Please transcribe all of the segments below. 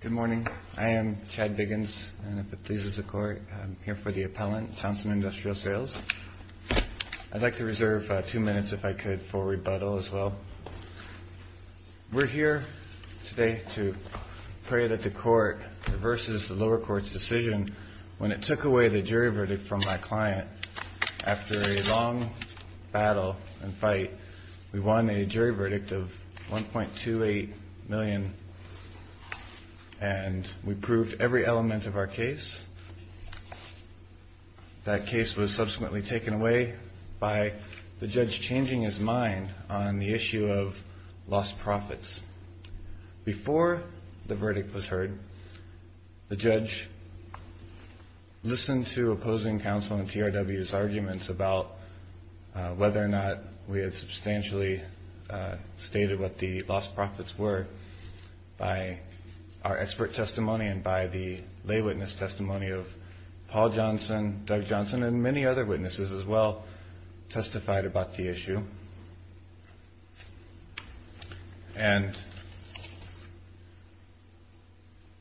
Good morning. I am Chad Biggins, and if it pleases the Court, I'm here for the appellant, Townsend Industrial Sales. I'd like to reserve two minutes, if I could, for rebuttal as well. We're here today to pray that the Court reverses the lower court's decision when it took away the jury verdict from my client. After a long battle and fight, we won a jury verdict of $1.28 million, and we proved every element of our case. That case was subsequently taken away by the judge changing his mind on the issue of lost profits. Before the verdict was heard, the judge listened to opposing counsel in TRW's arguments about whether or not we had substantially stated what the lost profits were by our expert testimony and by the lay witness testimony of Paul Johnson, Doug Johnson, and many other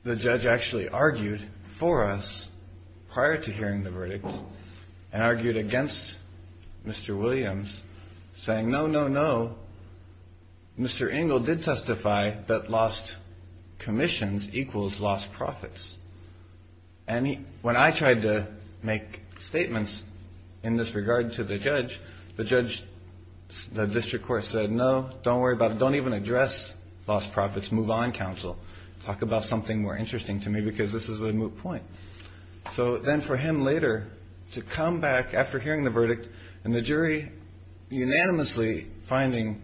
The judge actually argued for us prior to hearing the verdict and argued against Mr. Williams, saying, no, no, no, Mr. Ingle did testify that lost commissions equals lost profits. When I tried to make statements in this regard to the judge, the district court said, no, don't worry move on, counsel. Talk about something more interesting to me, because this is a moot point. So then for him later to come back after hearing the verdict and the jury unanimously finding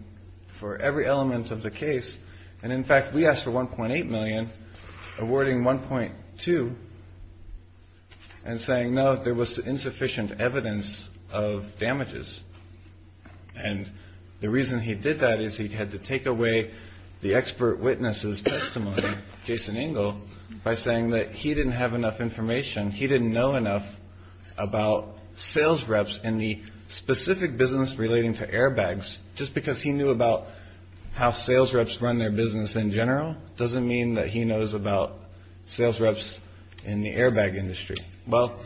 for every element of the case, and in fact, we asked for $1.8 million, awarding $1.2, and saying, no, there was insufficient evidence of damages. And the reason he did that is he had to take away the expert witness's testimony, Jason Ingle, by saying that he didn't have enough information. He didn't know enough about sales reps in the specific business relating to airbags. Just because he knew about how sales reps run their business in general doesn't mean that he knows about sales reps in the airbag industry. Well,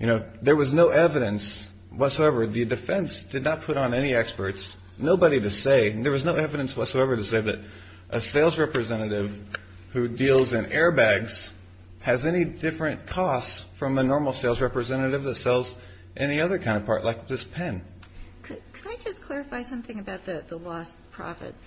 you know, there was no evidence whatsoever. The defense did not put on any experts, nobody to say, there was no evidence whatsoever to say that a sales representative who deals in airbags has any different costs from a normal sales representative that sells any other kind of part, like this pen. Could I just clarify something about the lost profits?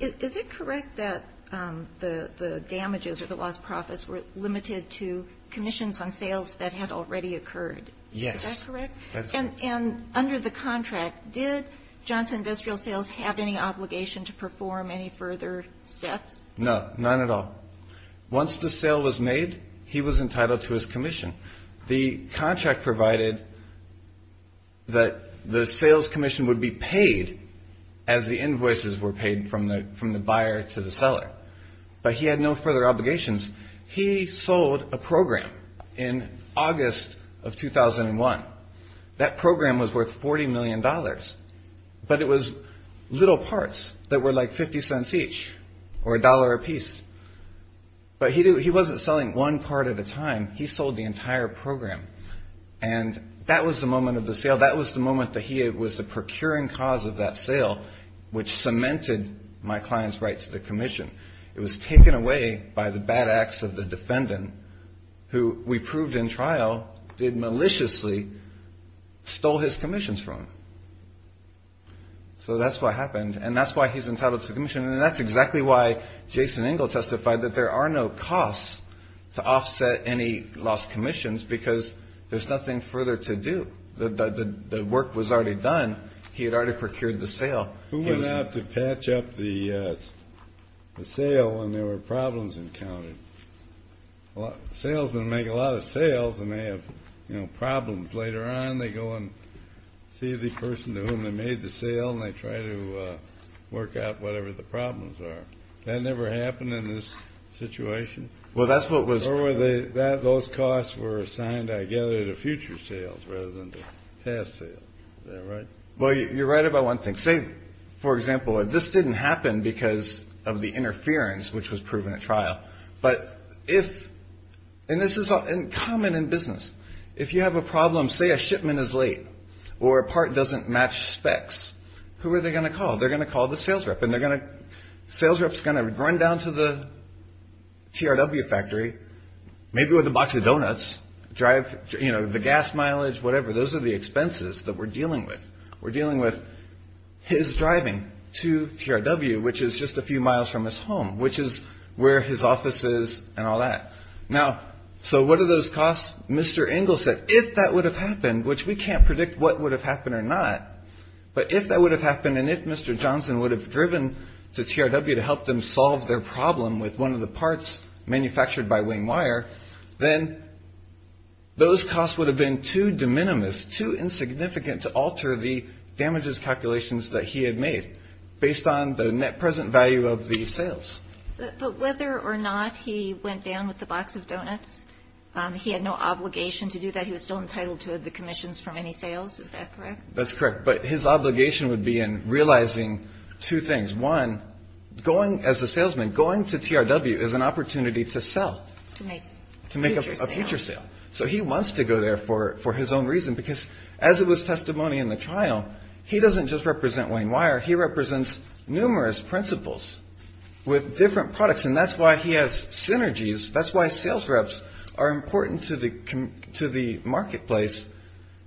Is it correct that the damages or the lost profits were limited to commissions on sales that had already occurred? Yes. Is that correct? And under the contract, did Johnson Industrial Sales have any obligation to perform any further steps? No, none at all. Once the sale was made, he was entitled to his commission. The contract provided that the sales commission would be paid as the invoices were paid from the buyer to the seller. But he had no further obligations. He sold a program in August of 2001. That program was worth $40 million, but it was little parts that were like 50 cents each or a dollar a piece. But he wasn't selling one part at a time. He sold the entire program. And that was the moment of the sale. That was the moment that he was the procuring cause of that sale, which cemented my client's right to the commission. It was taken away by the bad acts of the defendant, who we proved in trial, did maliciously stole his commissions from him. So that's what happened. And that's why he's entitled to the commission. And that's exactly why Jason Engel testified that there are no costs to offset any lost commissions, because there's nothing further to do. The work was already done. He had already procured the sale. Who went out to patch up the sale when there were problems encountered? Salesmen make a lot of sales, and they have problems. Later on, they go and see the person to whom they made the sale, and they try to work out whatever the problems are. That never happened in this situation? Well, that's what was... Or were they, those costs were assigned, I gather, to future sales rather than to past sales. Is that right? Well, you're right about one thing. Say, for example, this didn't happen because of the interference, which was proven at trial. But if, and this is common in business, if you have a problem, say a shipment is late or a part doesn't match specs, who are they going to call? They're going to call the sales rep, and the sales rep's going to run down to the TRW factory, maybe with a box of donuts, drive, you know, the gas mileage, whatever. Those are the expenses that we're dealing with. We're dealing with his driving to TRW, which is just a few miles from his home, which is where his office is and all that. Now, so what are those costs? Mr. Engel said, if that would have happened, which we can't predict what would have happened or not, but if that would have happened and if Mr. Johnson would have driven to TRW to help them solve their problem with one of the parts manufactured by Wing Wire, then those costs would have been too de minimis, too insignificant, to alter the damages calculations that he had made based on the net present value of the sales. But whether or not he went down with the box of donuts, he had no obligation to do that. He was still entitled to the commissions from any sales. Is that correct? That's correct. But his obligation would be in realizing two things. One, going as a salesman, going to TRW is an opportunity to sell, to make a future sale. So he wants to go there for his own reason, because as it was testimony in the trial, he doesn't just represent Wing Wire. He represents numerous principles with different products. And that's why he has synergies. That's why sales reps are important to the to the marketplace.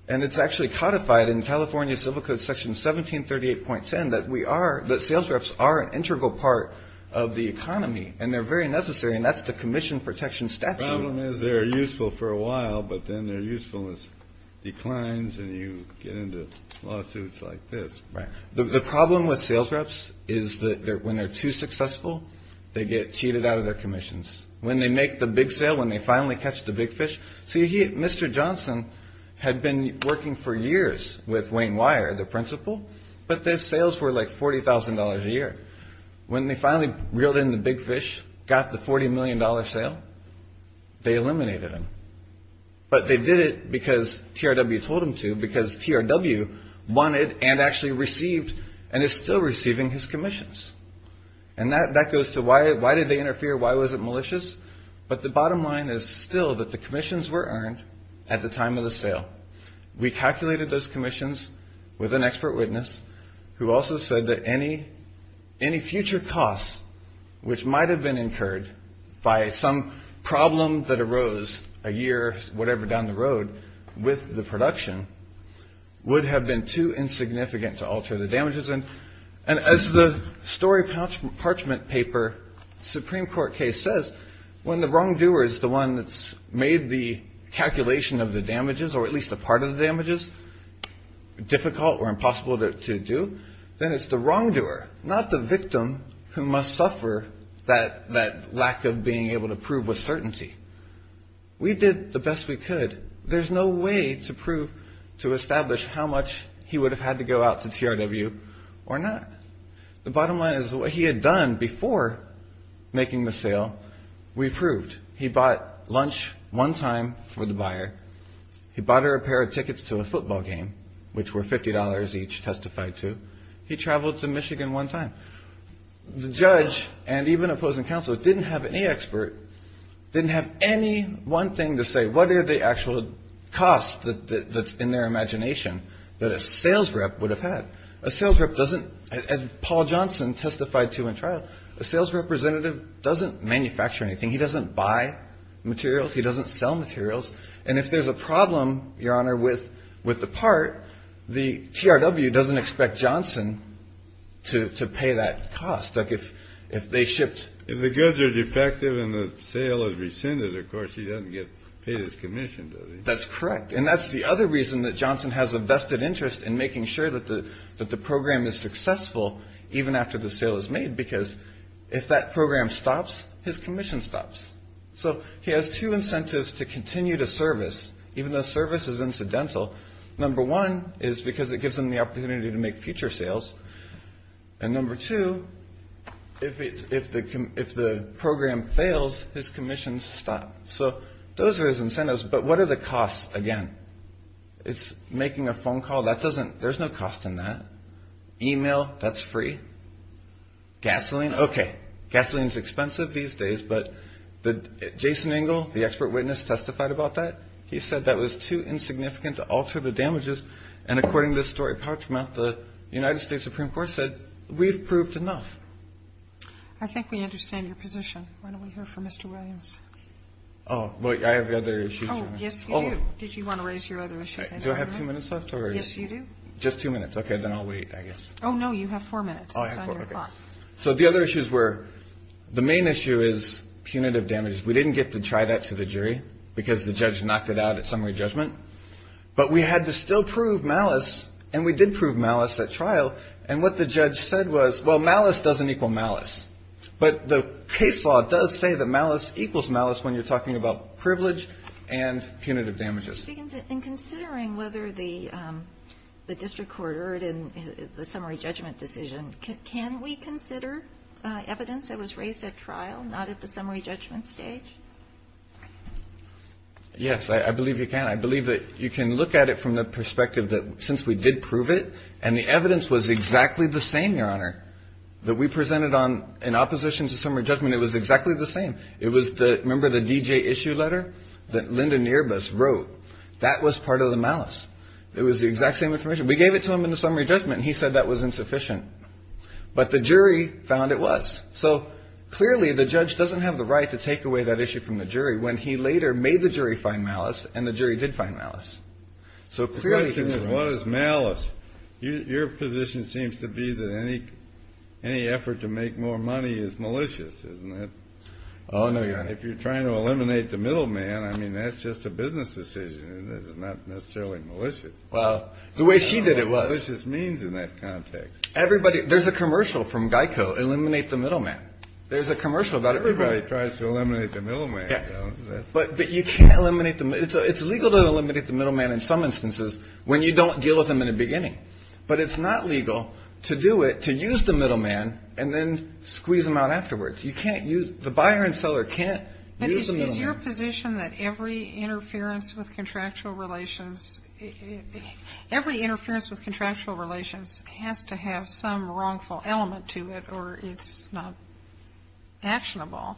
And it's actually codified in California Civil Code Section 1738.10 that we are that sales reps are an integral part of the economy. And they're very necessary. And that's the commission protection. Statute is they're useful for a while, but then they're useful as declines. And you get into lawsuits like this. The problem with sales reps is that when they're too successful, they get cheated out of their commissions. When they make the big sale, when they finally catch the big fish. See, Mr. Johnson had been working for years with Wayne Wire, the principal. But their sales were like forty thousand dollars a year. When they finally reeled in the big fish, got the forty million dollar sale. They eliminated him. But they did it because TRW told him to, because TRW wanted and actually received and is still receiving his commissions. And that that goes to why. Why did they interfere? Why was it malicious? But the bottom line is still that the commissions were earned at the time of the sale. We calculated those commissions with an expert witness who also said that any any future costs, which might have been incurred by some problem that arose a year, whatever, down the road with the production, would have been too insignificant to alter the damages. And and as the story parchment paper Supreme Court case says, when the wrongdoer is the one that's made the calculation of the damages or at least a part of the damages difficult or impossible to do, then it's the wrongdoer, not the victim, who must suffer that that lack of being able to prove with certainty. We did the best we could. There's no way to prove to establish how much he would have had to go out to TRW or not. The bottom line is what he had done before making the sale. We proved he bought lunch one time for the buyer. He bought her a pair of tickets to a football game, which were fifty dollars each testified to. He traveled to Michigan one time. The judge and even opposing counsel didn't have any expert, didn't have any one thing to say. What are the actual costs that's in their imagination that a sales rep would have had? A sales rep doesn't. Paul Johnson testified to in trial. A sales representative doesn't manufacture anything. He doesn't buy materials. He doesn't sell materials. And if there's a problem, Your Honor, with with the part, the TRW doesn't expect Johnson to pay that cost. Look, if if they shipped the goods are defective and the sale is rescinded, of course, he doesn't get paid his commission. That's correct. And that's the other reason that Johnson has a vested interest in making sure that the that the program is successful even after the sale is made, because if that program stops, his commission stops. So he has two incentives to continue to service, even though service is incidental. Number one is because it gives them the opportunity to make future sales. And number two, if it's if the if the program fails, his commission stop. So those are his incentives. But what are the costs? Again, it's making a phone call that doesn't there's no cost in that email. That's free gasoline. OK. Gasoline is expensive these days. But the Jason Engel, the expert witness, testified about that. He said that was too insignificant to alter the damages. And according to this story, Parchment, the United States Supreme Court said we've proved enough. I think we understand your position. Why don't we hear from Mr. Williams? Oh, well, I have the other issue. Yes. Oh, did you want to raise your other issue? Do I have two minutes left or yes, you do. Just two minutes. OK, then I'll wait, I guess. Oh, no, you have four minutes. So the other issues were the main issue is punitive damages. We didn't get to try that to the jury because the judge knocked it out at summary judgment. But we had to still prove malice. And we did prove malice at trial. And what the judge said was, well, malice doesn't equal malice. But the case law does say that malice equals malice when you're talking about privilege and punitive damages. And considering whether the district court heard in the summary judgment decision, can we consider evidence that was raised at trial, not at the summary judgment stage? Yes, I believe you can. I believe that you can look at it from the perspective that since we did prove it and the evidence was exactly the same, Your Honor, that we presented on in opposition to summary judgment, it was exactly the same. It was the member of the D.J. issue letter that Lyndon Earbus wrote. That was part of the malice. It was the exact same information. We gave it to him in the summary judgment. He said that was insufficient. But the jury found it was so clearly the judge doesn't have the right to take away that issue from the jury. When he later made the jury find malice and the jury did find malice. So clearly what is malice? Your position seems to be that any any effort to make more money is malicious. Isn't it? Oh, no. If you're trying to eliminate the middleman, I mean, that's just a business decision that is not necessarily malicious. Well, the way she did it was just means in that context. Everybody. There's a commercial from Geico. Eliminate the middleman. There's a commercial about everybody tries to eliminate the middleman. But you can't eliminate them. It's illegal to eliminate the middleman in some instances when you don't deal with them in the beginning. But it's not legal to do it, to use the middleman and then squeeze them out afterwards. You can't use the buyer and seller can't use your position that every interference with contractual relations, every interference with contractual relations has to have some wrongful element to it or it's not actionable.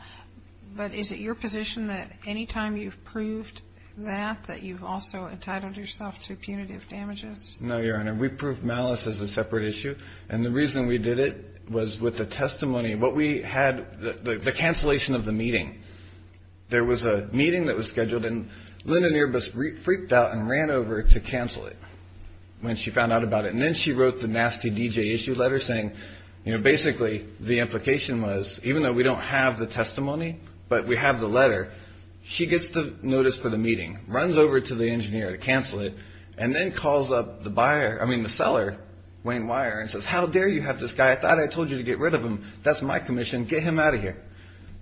But is it your position that any time you've proved that that you've also entitled yourself to punitive damages? No, your honor. We prove malice as a separate issue. And the reason we did it was with the testimony. What we had, the cancellation of the meeting. There was a meeting that was scheduled and Linda Nearbus freaked out and ran over to cancel it when she found out about it. And then she wrote the nasty D.J. issue letter saying, you know, basically the implication was even though we don't have the testimony, but we have the letter, she gets to notice for the meeting, runs over to the engineer to cancel it, and then calls up the buyer, I mean, the seller, Wayne Weyer, and says, how dare you have this guy? I thought I told you to get rid of him. That's my commission. Get him out of here.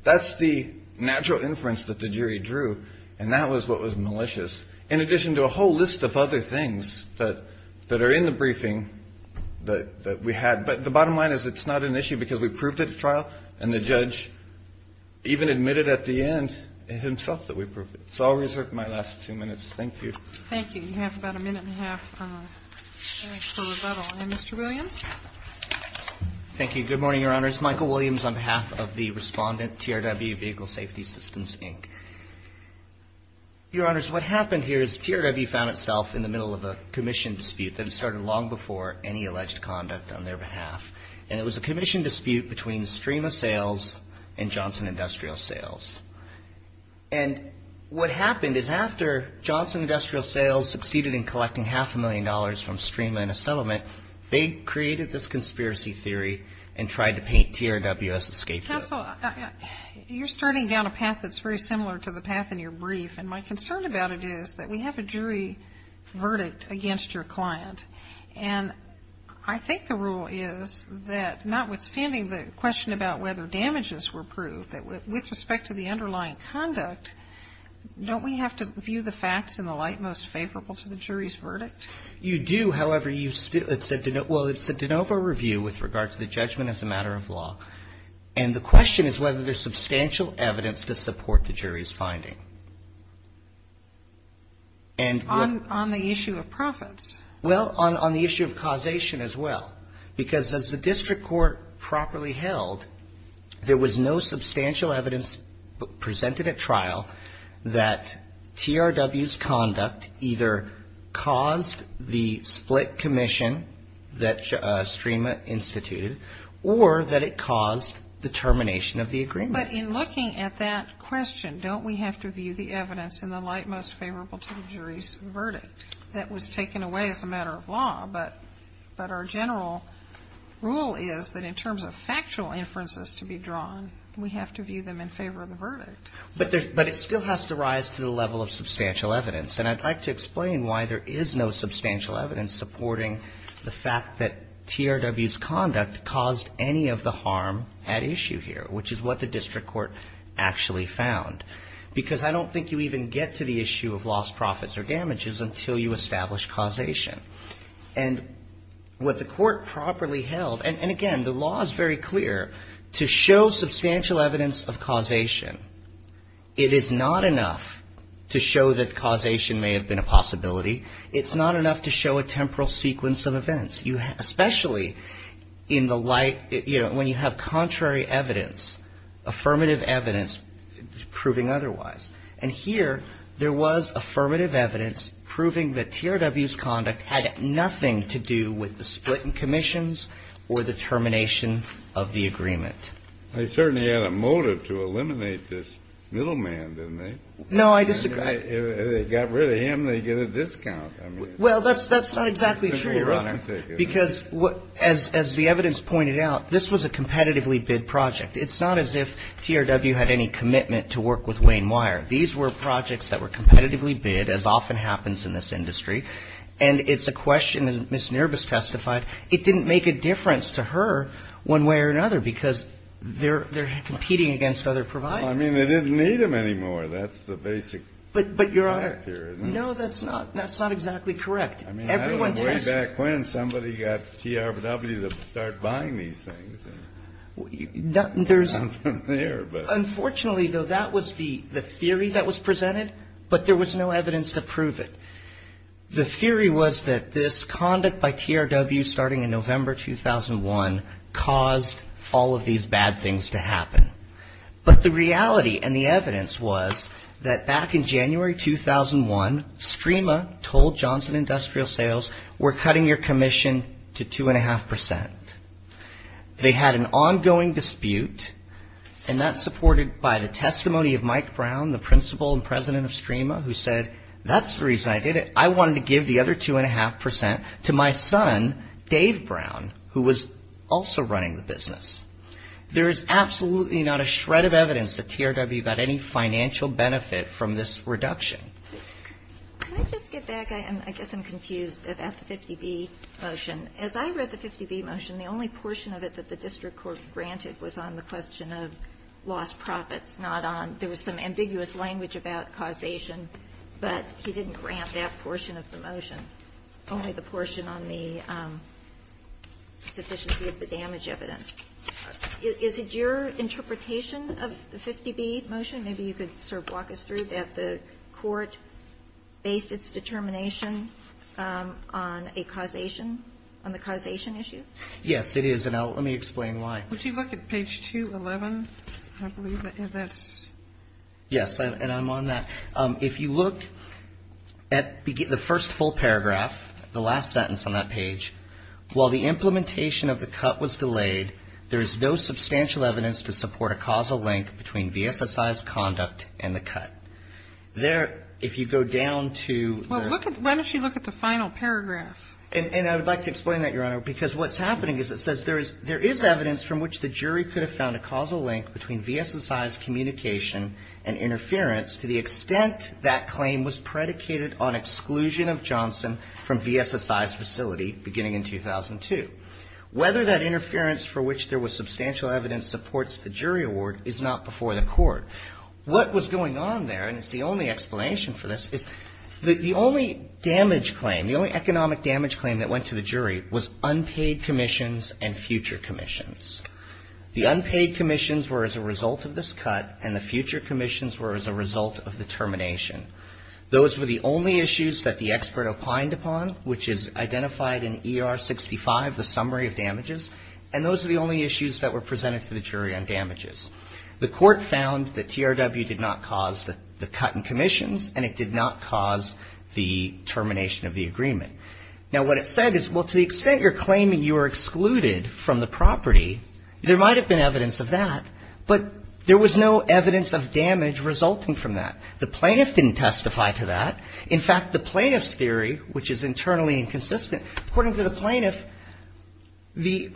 That's the natural inference that the jury drew. And that was what was malicious. In addition to a whole list of other things that are in the briefing that we had. But the bottom line is, it's not an issue because we proved it at the trial. And the judge even admitted at the end himself that we proved it. So I'll reserve my last two minutes. Thank you. Thank you. You have about a minute and a half for rebuttal. And Mr. Williams? Thank you. Good morning, Your Honors. Michael Williams on behalf of the respondent, TRW Vehicle Safety Systems, Inc. Your Honors, what happened here is TRW found itself in the middle of a commission dispute that started long before any alleged conduct on their behalf. And it was a commission dispute between Strema Sales and Johnson Industrial Sales. And what happened is after Johnson Industrial Sales succeeded in collecting half a million dollars from Strema in a settlement, they created this conspiracy theory and tried to paint TRW as a scapegoat. Counsel, you're starting down a path that's very similar to the path in your brief. And my concern about it is that we have a jury verdict against your client. And I think the rule is that notwithstanding the question about whether damages were proved, that with respect to the underlying conduct, don't we have to view the facts in the light most favorable to the jury's verdict? You do. However, it's a de novo review with regard to the judgment as a matter of law. And the question is whether there's substantial evidence to support the jury's finding. On the issue of profits? Well, on the issue of causation as well. Because as the district court properly held, there was no substantial evidence presented at trial that TRW's conduct either caused the split commission that Strema instituted or that it caused the termination of the agreement. But in looking at that question, don't we have to view the evidence in the light most favorable to the jury's verdict? That was taken away as a matter of law. But our general rule is that in terms of factual inferences to be drawn, we have to view them in favor of the verdict. But it still has to rise to the level of substantial evidence. And I'd like to explain why there is no substantial evidence supporting the fact that TRW's conduct caused any of the harm at issue here, which is what the district court actually found. Because I don't think you even get to the issue of lost profits or damages until you establish causation. And what the court properly held, and again, the law is very clear, to show substantial evidence of causation, it is not enough to show that causation may have been a possibility. It's not enough to show a temporal sequence of events. Especially in the light, you know, when you have contrary evidence, affirmative evidence proving otherwise. And here, there was affirmative evidence proving that TRW's conduct had nothing to do with the split in commissions or the termination of the agreement. They certainly had a motive to eliminate this middleman, didn't they? No, I disagree. If they got rid of him, they'd get a discount. Well, that's not exactly true. Because, as the evidence pointed out, this was a competitively bid project. It's not as if TRW had any commitment to work with Wayne Wire. These were projects that were competitively bid, as often happens in this industry. And it's a question, as Ms. Nurbis testified, it didn't make a difference to her one way or another because they're competing against other providers. I mean, they didn't need them anymore. That's the basic. But, Your Honor, no, that's not. That's not exactly correct. I mean, I don't know way back when somebody got TRW to start buying these things. Unfortunately, though, that was the theory that was presented, but there was no evidence to prove it. The theory was that this conduct by TRW, starting in November 2001, caused all of these bad things to happen. But the reality and the evidence was that back in January 2001, STREMA told Johnson Industrial Sales, we're cutting your commission to two and a half percent. They had an ongoing dispute, and that's supported by the testimony of Mike Brown, the principal and president of STREMA, who said, that's the reason I did it. I wanted to give the other two and a half percent to my son, Dave Brown, who was also running the business. There is absolutely not a shred of evidence that TRW got any financial benefit from this reduction. Can I just get back? I guess I'm confused about the 50B motion. As I read the 50B motion, the only portion of it that the district court granted was on the question of lost profits, not on, there was some ambiguous language about causation, but he didn't grant that portion of the motion, only the portion on the sufficiency of the damage evidence. Is it your interpretation of the 50B motion, maybe you could sort of walk us through, that the court based its determination on a causation, on the causation issue? Yes, it is. And let me explain why. Would you look at page 211, I believe that's. Yes, and I'm on that. If you look at the first full paragraph, the last sentence on that page, while the implementation of the cut was delayed, there is no substantial evidence to support a causal link between VSSI's conduct and the cut. There, if you go down to. Well, look at, why don't you look at the final paragraph. And I would like to explain that, Your Honor, because what's happening is it says there is, there is evidence from which the jury could have found a causal link between VSSI's communication and interference to the extent that claim was predicated on exclusion of Johnson from VSSI's facility beginning in 2002. Whether that interference for which there was substantial evidence supports the jury award is not before the court. What was going on there, and it's the only explanation for this, is that the only damage claim, the only economic damage claim that went to the jury was unpaid commissions and future commissions. The unpaid commissions were as a result of this cut and the future commissions were as a result of the termination. Those were the only issues that the expert opined upon, which is identified in ER 65, the summary of damages. And those are the only issues that were presented to the jury on damages. The court found that TRW did not cause the cut in commissions and it did not cause the termination of the agreement. Now, what it said is, well, to the extent you're claiming you were excluded from the property, there might have been evidence of that, but there was no evidence of damage resulting from that. The plaintiff didn't testify to that. In fact, the plaintiff's theory, which is internally inconsistent, according to the plaintiff, the,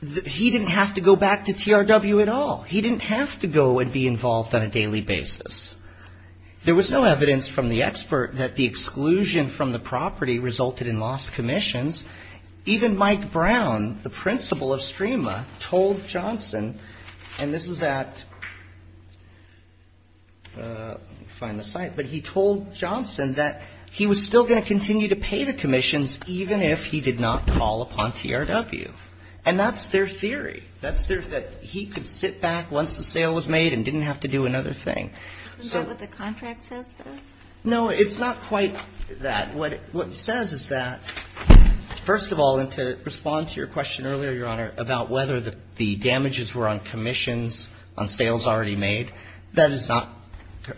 he didn't have to go back to TRW. At all. He didn't have to go and be involved on a daily basis. There was no evidence from the expert that the exclusion from the property resulted in lost commissions. Even Mike Brown, the principal of STREMA, told Johnson, and this is at, find the site, but he told Johnson that he was still going to continue to pay the commissions even if he did not call upon TRW. And that's their theory. That's their, that he could sit back once the sale was made and didn't have to do another thing. So is that what the contract says? No, it's not quite that. What it says is that, first of all, and to respond to your question earlier, Your Honor, about whether the damages were on commissions, on sales already made, that is not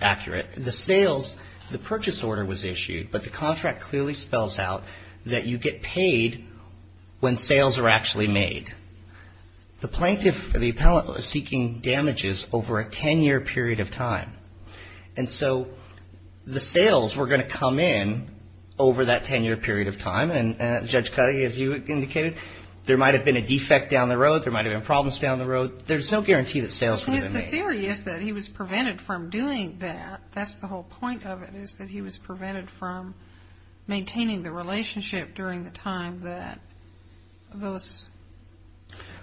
accurate. The sales, the purchase order was issued, but the contract clearly spells out that you get paid when sales are actually made. The plaintiff, the appellant, was seeking damages over a 10-year period of time. And so the sales were going to come in over that 10-year period of time. And Judge Cuddy, as you indicated, there might have been a defect down the road. There might have been problems down the road. There's no guarantee that sales would have been made. The theory is that he was prevented from doing that. That's the whole point of it, is that he was prevented from maintaining the relationship during the time that those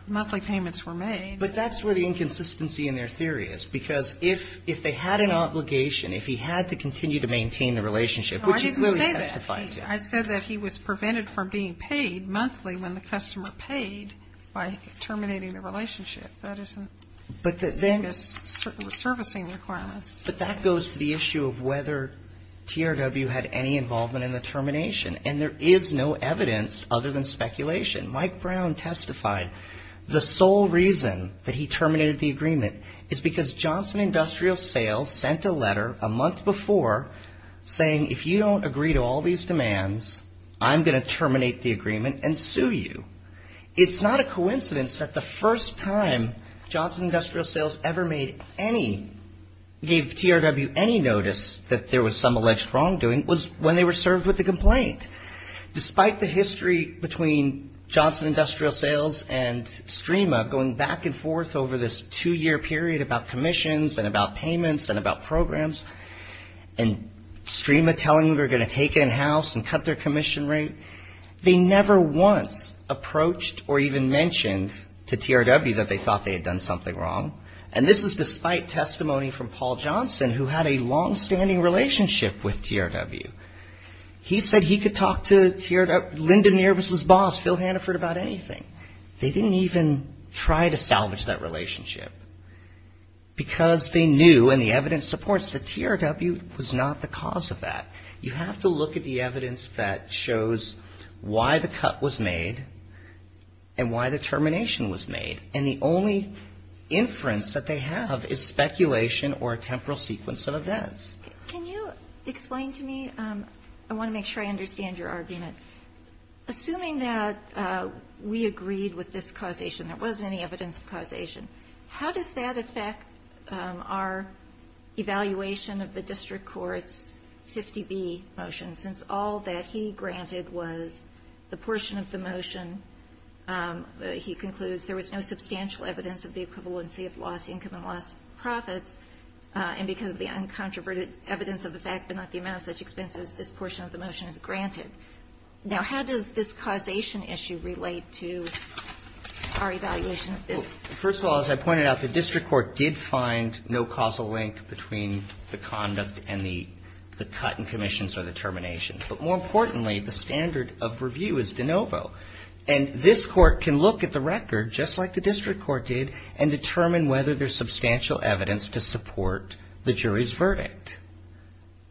monthly payments were made. But that's where the inconsistency in their theory is. Because if they had an obligation, if he had to continue to maintain the relationship, which he clearly testified to. I said that he was prevented from being paid monthly when the customer paid by terminating the relationship. That isn't servicing requirements. But that goes to the issue of whether TRW had any involvement in the termination. And there is no evidence other than speculation. Mike Brown testified the sole reason that he terminated the agreement is because Johnson Industrial Sales sent a letter a month before saying, if you don't agree to all these demands, I'm going to terminate the agreement and sue you. It's not a coincidence that the first time Johnson Industrial Sales ever made any, gave TRW any notice that there was some alleged wrongdoing was when they were served with the complaint. Despite the history between Johnson Industrial Sales and STREMA going back and forth over this two-year period about commissions and about payments and about programs, and STREMA telling them they were going to take it in-house and cut their commission rate, they never once approached or even mentioned to TRW that they thought they had done something wrong. And this is despite testimony from Paul Johnson, who had a longstanding relationship with TRW. He said he could talk to Linda Nervous's boss, Phil Hannaford, about anything. They didn't even try to salvage that relationship. Because they knew, and the evidence supports that TRW was not the cause of that. You have to look at the evidence that shows why the cut was made and why the termination was made. And the only inference that they have is speculation or a temporal sequence of events. Can you explain to me, I want to make sure I understand your argument. Assuming that we agreed with this causation, there wasn't any evidence of causation, how does that affect our evaluation of the district court's 50B motion? Since all that he granted was the portion of the motion, he concludes there was no substantial evidence of the equivalency of lost income and lost profits, and because of the uncontroverted evidence of the fact but not the amount of such expenses, this portion of the motion is granted. Now, how does this causation issue relate to our evaluation of this? First of all, as I pointed out, the district court did find no causal link between the conduct and the cut and commissions or the termination. But more importantly, the standard of review is de novo. And this court can look at the record, just like the district court did, and determine whether there's substantial evidence to support the jury's verdict.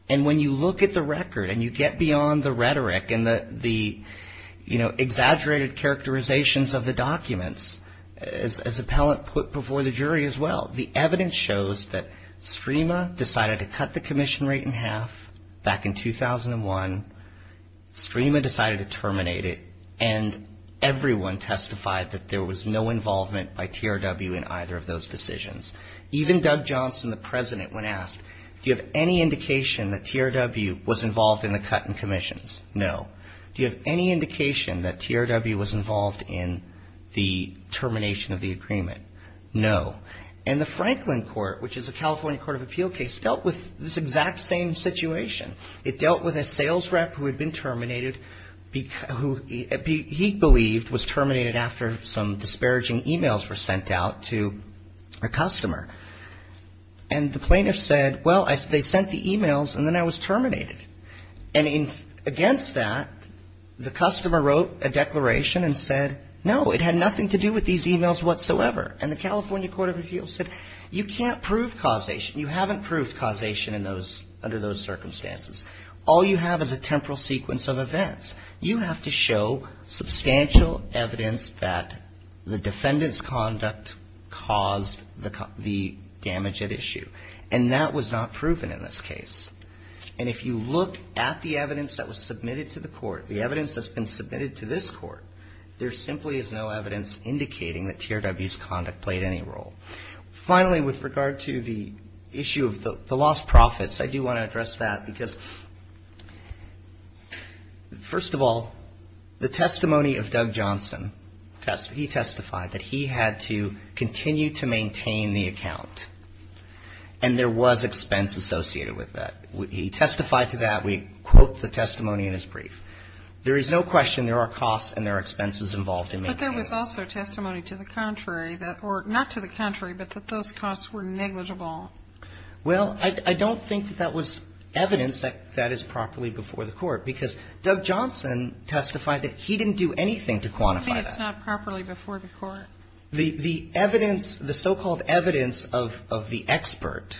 And when you look at the record and you get beyond the rhetoric and the exaggerated characterizations of the documents, as appellant put before the jury as well, the evidence shows that STREMA decided to cut the commission rate in half back in 2001, STREMA decided to terminate it, and everyone testified that there was no involvement by TRW in either of those decisions. Even Doug Johnson, the president, when asked, Do you have any indication that TRW was involved in the cut and commissions? No. Do you have any indication that TRW was involved in the termination of the agreement? No. And the Franklin Court, which is a California court of appeal case, dealt with this exact same situation. It dealt with a sales rep who had been terminated, who he believed was terminated after some disparaging emails were sent out to a customer. And the plaintiff said, Well, they sent the emails, and then I was terminated. And against that, the customer wrote a declaration and said, No, it had nothing to do with these emails whatsoever. And the California court of appeals said, You can't prove causation. You haven't proved causation under those circumstances. All you have is a temporal sequence of events. You have to show substantial evidence that the defendant's conduct caused the damage at issue. And that was not proven in this case. And if you look at the evidence that was submitted to the court, the evidence that's been submitted to this court, there simply is no evidence indicating that TRW's conduct played any role. Finally, with regard to the issue of the lost profits, I do want to address that because, first of all, the testimony of Doug Johnson, he testified that he had to continue to maintain the account, and there was expense associated with that. He testified to that. We quote the testimony in his brief. There is no question there are costs and there are expenses involved in maintaining it. But there was also testimony to the contrary, or not to the contrary, but that those costs were negligible. Well, I don't think that that was evidence that that is properly before the court because Doug Johnson testified that he didn't do anything to quantify that. I think it's not properly before the court. The evidence, the so-called evidence of the expert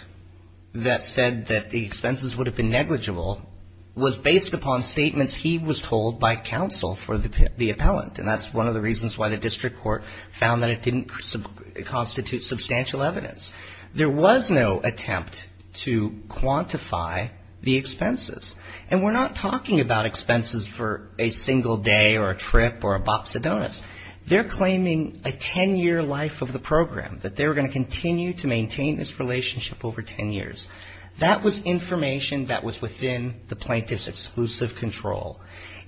that said that the expenses would have been negligible was based upon statements he was told by counsel for the appellant. And that's one of the reasons why the district court found that it didn't constitute substantial evidence. There was no attempt to quantify the expenses. And we're not talking about expenses for a single day or a trip or a box of donuts. They're claiming a ten-year life of the program, that they were going to continue to maintain this relationship over ten years. That was information that was within the plaintiff's exclusive control.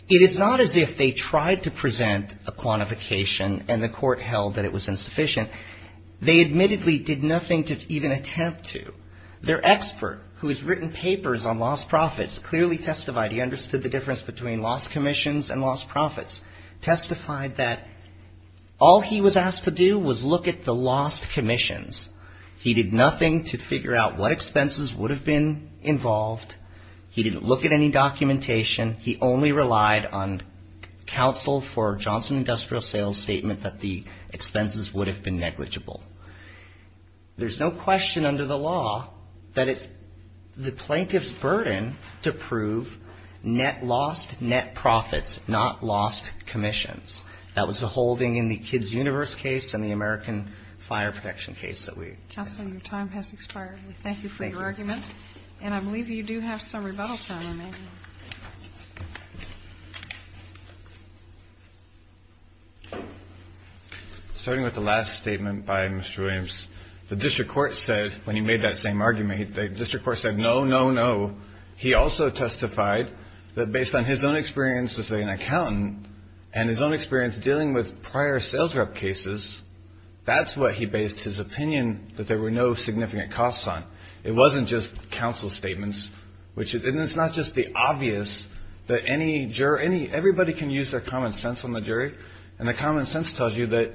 It is not as if they tried to present a quantification and the court held that it was insufficient. They admittedly did nothing to even attempt to. Their expert, who has written papers on lost profits, clearly testified, he understood the difference between lost commissions and lost profits, testified that all he was asked to do was look at the lost commissions. He did nothing to figure out what expenses would have been involved. He didn't look at any documentation. He only relied on counsel for Johnson Industrial Sales' statement that the expenses would have been negligible. There's no question under the law that it's the plaintiff's burden to prove net lost, net profits, not lost commissions. That was the holding in the Kids' Universe case and the American Fire Protection case that we raised. Counsel, your time has expired. We thank you for your argument. And I believe you do have some rebuttal time remaining. Starting with the last statement by Mr. Williams, the district court said when he made that same argument, the district court said no, no, no. He also testified that based on his own experience as an accountant and his own experience dealing with prior sales rep cases, that's what he based his opinion that there were no significant costs on. It wasn't just counsel's statements. And it's not just the opposite. It's obvious that everybody can use their common sense on the jury and the common sense tells you that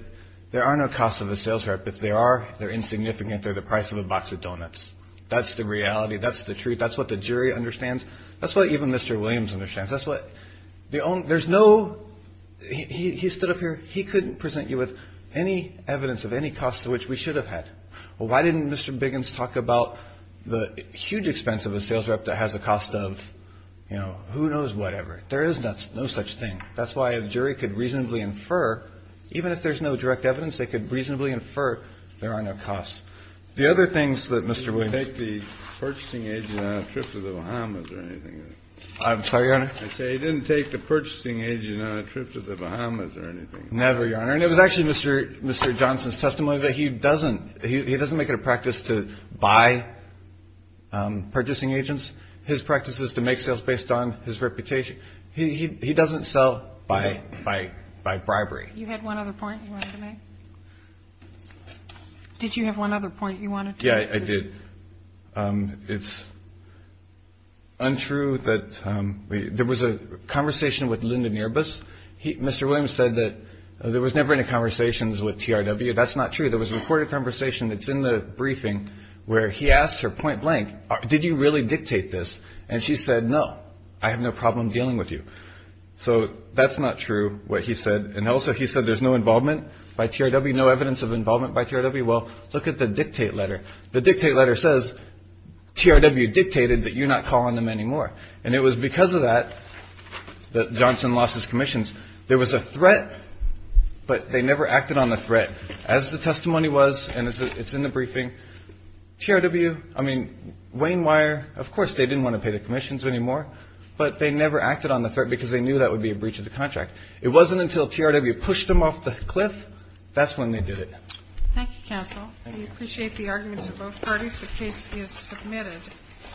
there are no costs of a sales rep. If there are, they're insignificant. They're the price of a box of donuts. That's the reality. That's the truth. That's what the jury understands. That's what even Mr. Williams understands. He stood up here. He couldn't present you with any evidence of any costs which we should have had. Well, why didn't Mr. Biggins talk about the huge expense of a sales rep that has a cost of, you know, who knows whatever? There is no such thing. That's why a jury could reasonably infer, even if there's no direct evidence, they could reasonably infer there are no costs. The other things that Mr. Williams ---- Kennedy, did he take the purchasing agent on a trip to the Bahamas or anything like that? I'm sorry, Your Honor? I say he didn't take the purchasing agent on a trip to the Bahamas or anything like that. Never, Your Honor. And it was actually Mr. Johnson's testimony that he doesn't make it a practice to buy purchasing agents. His practice is to make sales based on his reputation. He doesn't sell by bribery. You had one other point you wanted to make? Did you have one other point you wanted to make? Yeah, I did. It's untrue that there was a conversation with Linda Nierbus. Mr. Williams said that there was never any conversations with TRW. That's not true. There was a recorded conversation that's in the briefing where he asks her point blank, did you really dictate this? And she said, no, I have no problem dealing with you. So that's not true what he said. And also he said there's no involvement by TRW, no evidence of involvement by TRW. Well, look at the dictate letter. The dictate letter says TRW dictated that you're not calling them anymore. And it was because of that that Johnson lost his commissions. There was a threat, but they never acted on the threat. As the testimony was, and it's in the briefing, TRW, I mean, Wayne Wire, of course they didn't want to pay the commissions anymore, but they never acted on the threat because they knew that would be a breach of the contract. It wasn't until TRW pushed them off the cliff, that's when they did it. Thank you, counsel. We appreciate the arguments of both parties. The case is submitted.